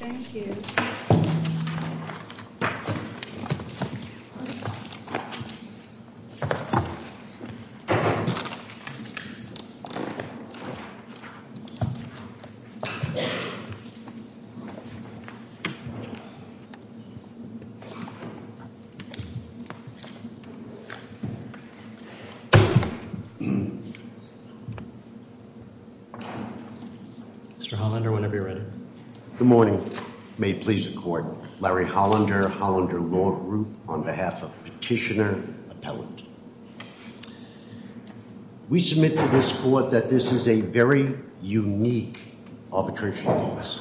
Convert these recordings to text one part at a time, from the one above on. Thank you. Mr. Hollander, whenever you're ready. Good morning. May it please the court. Larry Hollander, Hollander Law Group, on behalf of Petitioner Appellant. We submit to this court that this is a very unique arbitration case.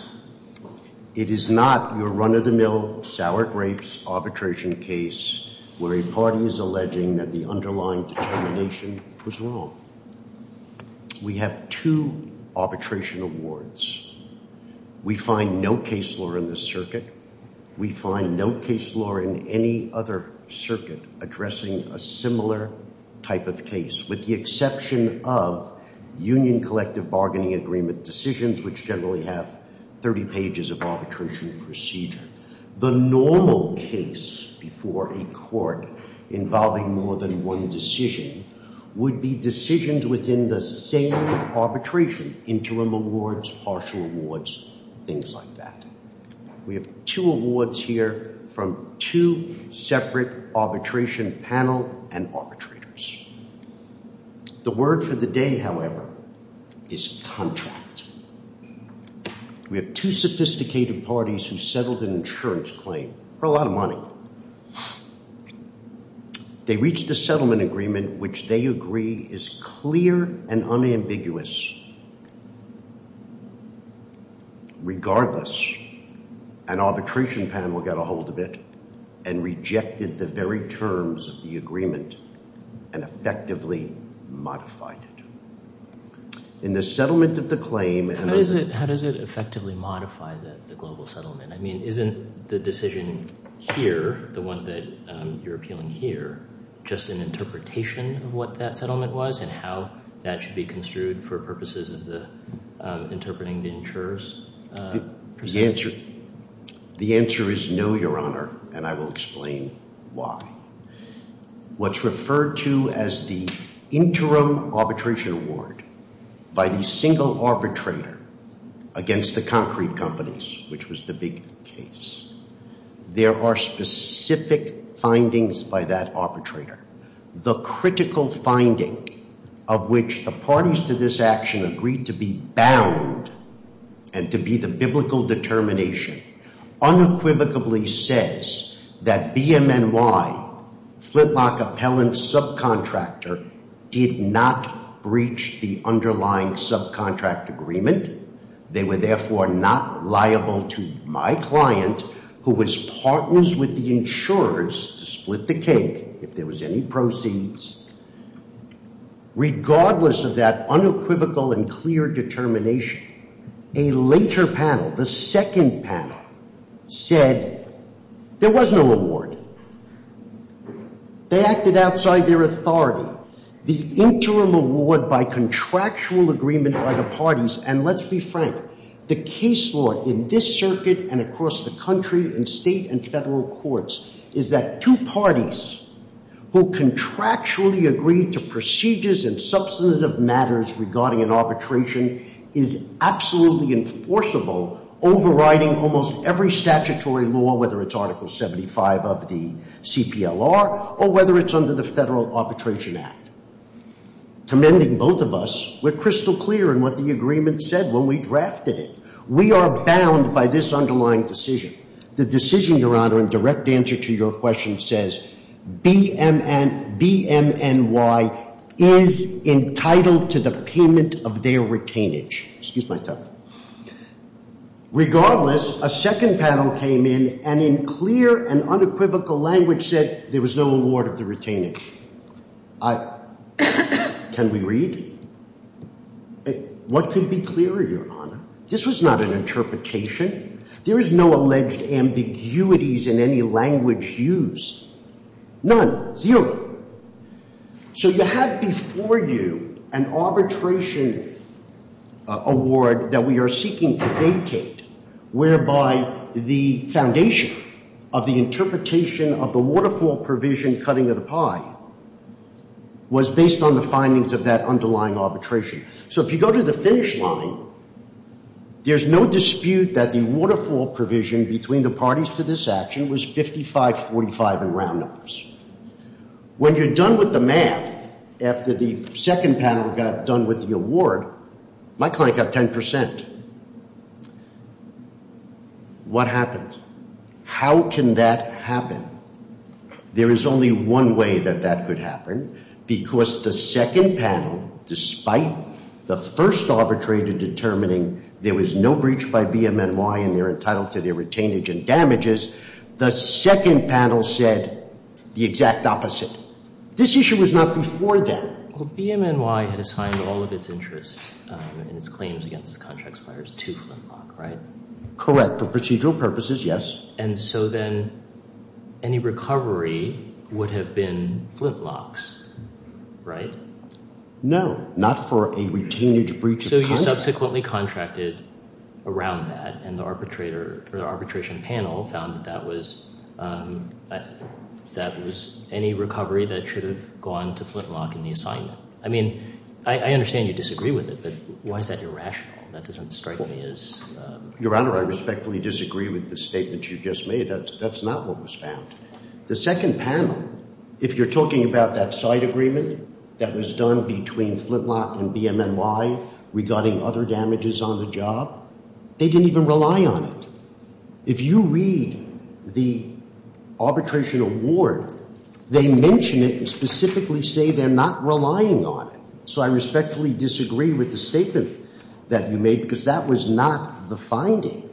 It is not your run-of-the-mill, sour grapes arbitration case where a party is alleging that the underlying determination was wrong. We have two arbitration awards. We find no case law in this circuit. We find no case law in any other circuit addressing a similar type of case, with the exception of Union Collective Bargaining Agreement decisions, which generally have 30 pages of arbitration procedure. The normal case before a court involving more than one decision would be decisions within the same arbitration, interim awards, partial awards, things like that. We have two awards here from two separate arbitration panel and arbitrators. The word for the day, however, is contract. We have two sophisticated parties who settled an insurance claim for a lot of money. They reached a settlement agreement which they agree is clear and unambiguous. Regardless, an arbitration panel got a hold of it and rejected the very terms of the agreement and effectively modified it. In the settlement of the claim— How does it effectively modify the global settlement? I mean, isn't the decision here, the one that you're appealing here, just an interpretation of what that settlement was and how that should be construed for purposes of interpreting the insurers? The answer is no, Your Honor, and I will explain why. What's referred to as the interim arbitration award by the single arbitrator against the concrete companies, which was the big case, there are specific findings by that arbitrator. The critical finding of which the parties to this action agreed to be bound and to be the biblical determination unequivocally says that BMNY, Flintlock Appellant Subcontractor, did not breach the underlying subcontract agreement. They were therefore not liable to my client who was partners with the insurers to split the cake. If there was any proceeds. Regardless of that unequivocal and clear determination, a later panel, the second panel, said there was no award. They acted outside their authority. The interim award by contractual agreement by the parties, and let's be frank, the case law in this circuit and across the country in state and federal courts is that two parties who contractually agree to procedures and substantive matters regarding an arbitration is absolutely enforceable, overriding almost every statutory law, whether it's Article 75 of the CPLR or whether it's under the Federal Arbitration Act. Commending both of us, we're crystal clear in what the agreement said when we drafted it. We are bound by this underlying decision. The decision, Your Honor, in direct answer to your question says BMNY is entitled to the payment of their retainage. Excuse my tongue. Regardless, a second panel came in and in clear and unequivocal language said there was no award of the retainage. Can we read? What could be clearer, Your Honor? This was not an interpretation. There is no alleged ambiguities in any language used. None. Zero. So you have before you an arbitration award that we are seeking to vacate, whereby the foundation of the interpretation of the waterfall provision cutting of the pie was based on the findings of that underlying arbitration. So if you go to the finish line, there's no dispute that the waterfall provision between the parties to this action was 55-45 in round numbers. When you're done with the math, after the second panel got done with the award, my client got 10%. What happened? How can that happen? There is only one way that that could happen, because the second panel, despite the first arbitrator determining there was no breach by BMNY and they're entitled to their retainage and damages, the second panel said the exact opposite. This issue was not before then. Well, BMNY had assigned all of its interests and its claims against the contract suppliers to Flintlock, right? Correct. For procedural purposes, yes. And so then any recovery would have been Flintlock's, right? No, not for a retainage breach of contract. They subsequently contracted around that, and the arbitration panel found that that was any recovery that should have gone to Flintlock in the assignment. I mean, I understand you disagree with it, but why is that irrational? That doesn't strike me as— Your Honor, I respectfully disagree with the statement you just made. That's not what was found. The second panel, if you're talking about that side agreement that was done between Flintlock and BMNY regarding other damages on the job, they didn't even rely on it. If you read the arbitration award, they mention it and specifically say they're not relying on it. So I respectfully disagree with the statement that you made, because that was not the finding.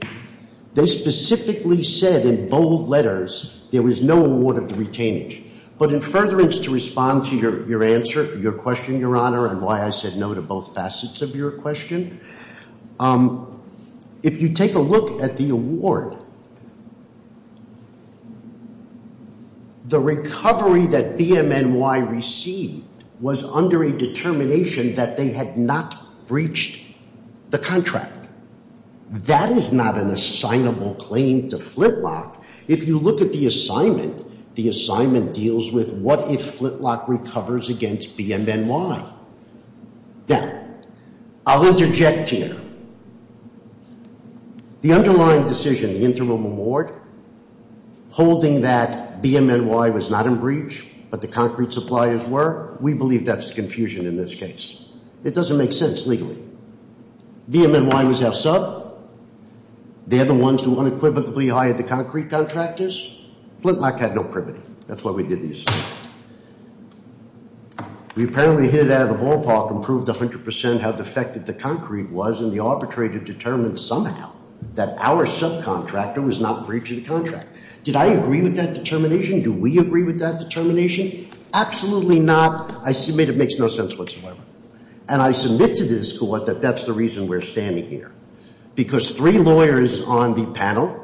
They specifically said in bold letters there was no award of the retainage. But in furtherance to respond to your answer, your question, Your Honor, and why I said no to both facets of your question, if you take a look at the award, the recovery that BMNY received was under a determination that they had not breached the contract. That is not an assignable claim to Flintlock. If you look at the assignment, the assignment deals with what if Flintlock recovers against BMNY. Now, I'll interject here. The underlying decision, the interim award, holding that BMNY was not in breach but the concrete suppliers were, we believe that's confusion in this case. It doesn't make sense legally. BMNY was our sub. They're the ones who unequivocally hired the concrete contractors. Flintlock had no privity. That's why we did the assignment. We apparently hit it out of the ballpark and proved 100% how defective the concrete was, and the arbitrator determined somehow that our subcontractor was not breaching the contract. Did I agree with that determination? Do we agree with that determination? Absolutely not. I submit it makes no sense whatsoever. And I submit to this court that that's the reason we're standing here because three lawyers on the panel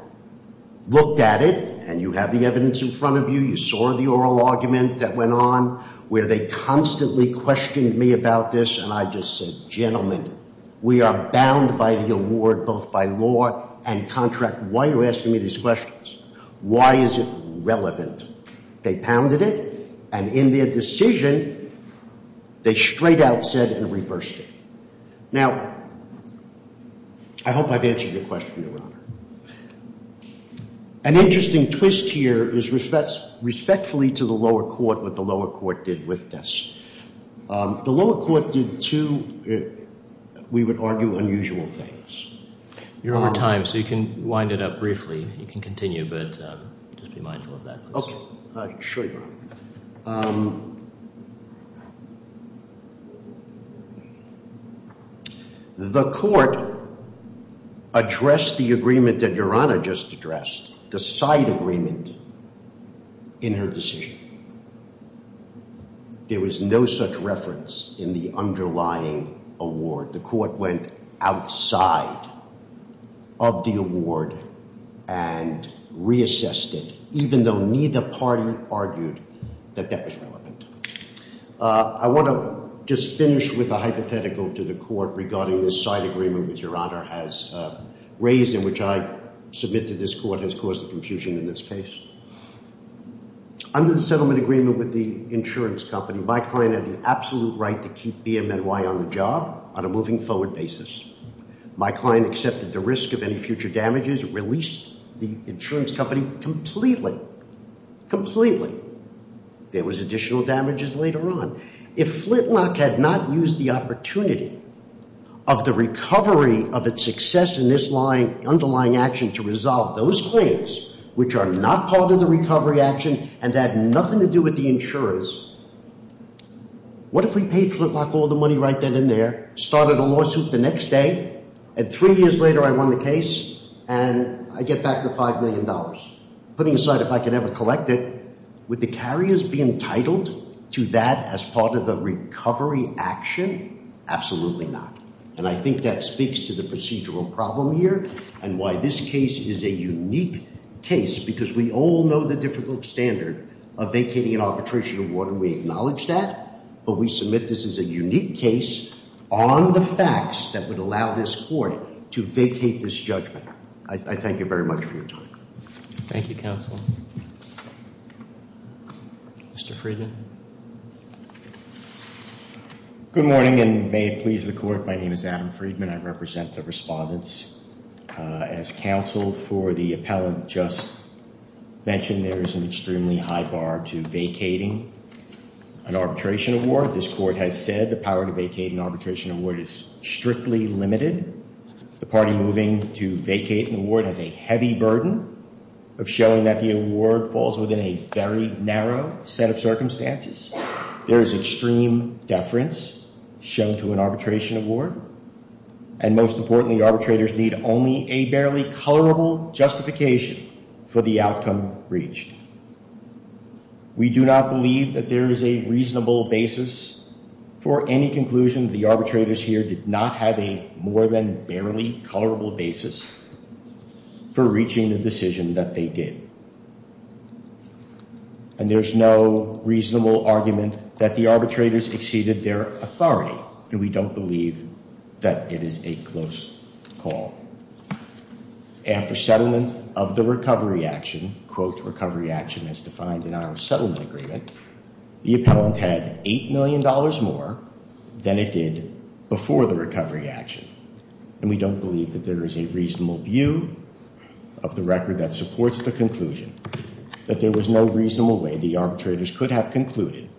looked at it, and you have the evidence in front of you. You saw the oral argument that went on where they constantly questioned me about this, and I just said, gentlemen, we are bound by the award both by law and contract. Why are you asking me these questions? Why is it relevant? They pounded it, and in their decision, they straight out said and reversed it. Now, I hope I've answered your question, Your Honor. An interesting twist here is respectfully to the lower court what the lower court did with this. The lower court did two, we would argue, unusual things. Over time, so you can wind it up briefly. You can continue, but just be mindful of that. Sure, Your Honor. The court addressed the agreement that Your Honor just addressed, the side agreement in her decision. There was no such reference in the underlying award. The court went outside of the award and reassessed it, even though neither party argued that that was relevant. I want to just finish with a hypothetical to the court regarding this side agreement which Your Honor has raised and which I submit to this court has caused confusion in this case. Under the settlement agreement with the insurance company, my client had the absolute right to keep BMNY on the job on a moving forward basis. My client accepted the risk of any future damages, released the insurance company completely, completely. There was additional damages later on. If Flintlock had not used the opportunity of the recovery of its success in this underlying action to resolve those claims which are not part of the recovery action and had nothing to do with the insurers, what if we paid Flintlock all the money right then and there, started a lawsuit the next day, and three years later I won the case and I get back the $5 million? Putting aside if I could ever collect it, would the carriers be entitled to that as part of the recovery action? Absolutely not. And I think that speaks to the procedural problem here and why this case is a unique case because we all know the difficult standard of vacating an arbitration award and we acknowledge that, but we submit this as a unique case on the facts that would allow this court to vacate this judgment. I thank you very much for your time. Thank you, counsel. Mr. Friedman. Good morning and may it please the court. My name is Adam Friedman. I represent the respondents. As counsel for the appellant just mentioned, there is an extremely high bar to vacating an arbitration award. This court has said the power to vacate an arbitration award is strictly limited. The party moving to vacate an award has a heavy burden of showing that the award falls within a very narrow set of circumstances. There is extreme deference shown to an arbitration award, and most importantly, arbitrators need only a barely colorable justification for the outcome reached. We do not believe that there is a reasonable basis for any conclusion. The arbitrators here did not have a more than barely colorable basis for reaching the decision that they did. And there's no reasonable argument that the arbitrators exceeded their authority, and we don't believe that it is a close call. After settlement of the recovery action, quote, recovery action as defined in our settlement agreement, the appellant had $8 million more than it did before the recovery action, and we don't believe that there is a reasonable view of the record that supports the conclusion, that there was no reasonable way the arbitrators could have concluded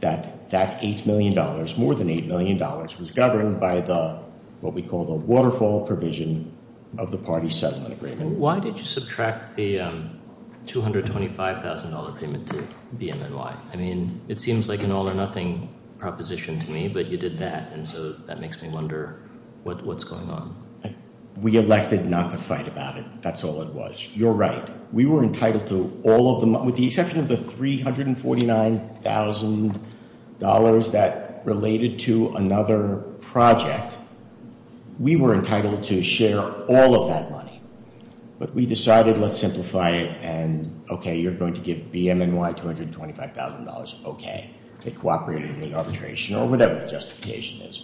that that $8 million, more than $8 million, was governed by the, what we call the waterfall provision of the party settlement agreement. Why did you subtract the $225,000 payment to the MNY? I mean, it seems like an all or nothing proposition to me, but you did that, and so that makes me wonder what's going on. We elected not to fight about it. That's all it was. You're right. We were entitled to all of the money, with the exception of the $349,000 that related to another project. We were entitled to share all of that money. But we decided, let's simplify it, and okay, you're going to give BMNY $225,000, okay. It cooperated in the arbitration, or whatever the justification is.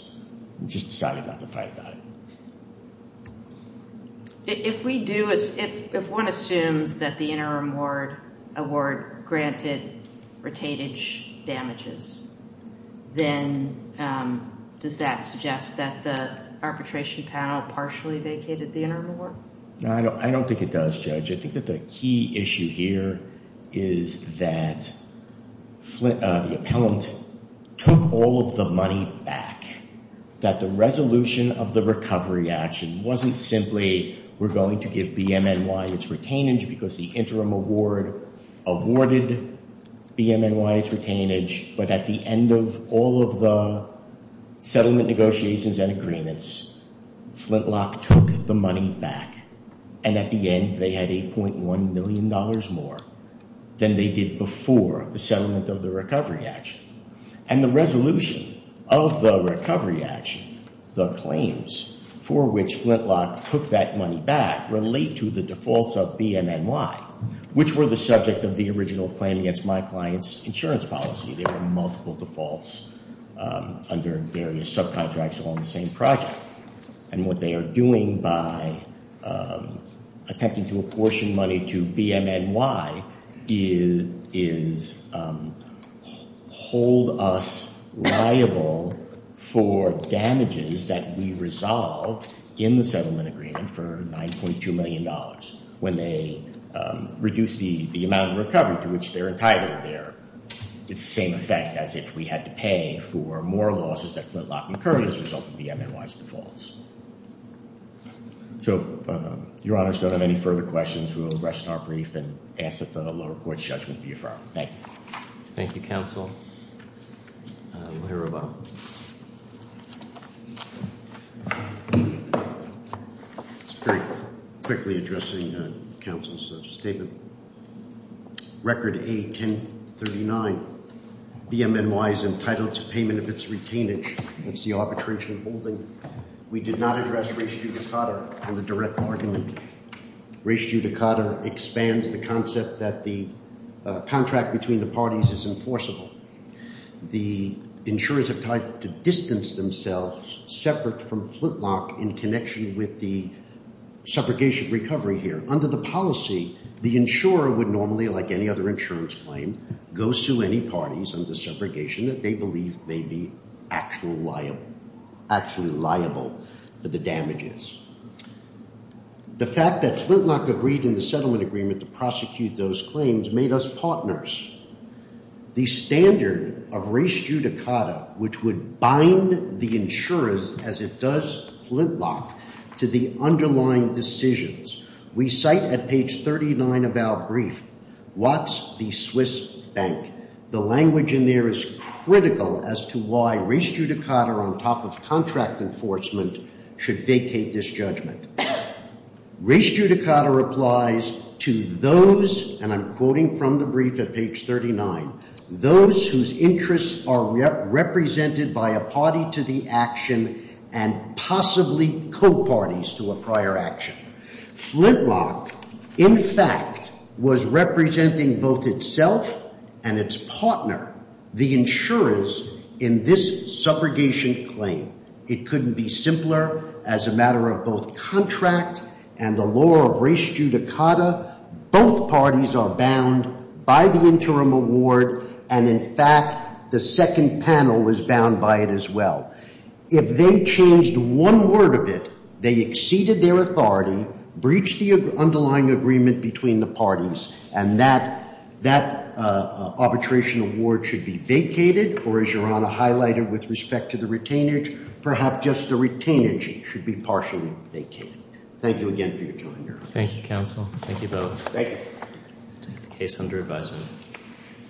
We just decided not to fight about it. If we do, if one assumes that the interim award granted retainage damages, then does that suggest that the arbitration panel partially vacated the interim award? No, I don't think it does, Judge. I think that the key issue here is that the appellant took all of the money back, that the resolution of the recovery action wasn't simply we're going to give BMNY its retainage because the interim award awarded BMNY its retainage, but at the end of all of the settlement negotiations and agreements, Flintlock took the money back. And at the end, they had $8.1 million more than they did before the settlement of the recovery action. And the resolution of the recovery action, the claims for which Flintlock took that money back, did not relate to the defaults of BMNY, which were the subject of the original plan against my client's insurance policy. There were multiple defaults under various subcontracts along the same project. And what they are doing by attempting to apportion money to BMNY is hold us liable for damages that we resolved in the settlement agreement for $9.2 million when they reduced the amount of recovery to which they're entitled there. It's the same effect as if we had to pay for more losses that Flintlock incurred as a result of BMNY's defaults. So if Your Honors don't have any further questions, we will address in our brief and ask that the lower court's judgment be affirmed. Thank you. Thank you, Counsel. We'll hear about it. Just very quickly addressing Counsel's statement. Record A-1039, BMNY is entitled to payment of its retainage. That's the arbitration holding. We did not address res judicata in the direct argument. Res judicata expands the concept that the contract between the parties is enforceable. The insurers have tried to distance themselves separate from Flintlock in connection with the subrogation recovery here. Under the policy, the insurer would normally, like any other insurance claim, go sue any parties under subrogation that they believe may be actually liable for the damages. The fact that Flintlock agreed in the settlement agreement to prosecute those claims made us partners. The standard of res judicata, which would bind the insurers as it does Flintlock to the underlying decisions, we cite at page 39 of our brief, Watts v. Swiss Bank. The language in there is critical as to why res judicata on top of contract enforcement should vacate this judgment. Res judicata applies to those, and I'm quoting from the brief at page 39, those whose interests are represented by a party to the action and possibly co-parties to a prior action. Flintlock, in fact, was representing both itself and its partner, the insurers, in this subrogation claim. It couldn't be simpler as a matter of both contract and the law of res judicata. Both parties are bound by the interim award, and in fact, the second panel is bound by it as well. If they changed one word of it, they exceeded their authority, breached the underlying agreement between the parties, and that arbitration award should be vacated or, as Your Honor highlighted with respect to the retainage, perhaps just the retainage should be partially vacated. Thank you again for your time, Your Honor. Thank you, counsel. Thank you both. Thank you. Case under advisement.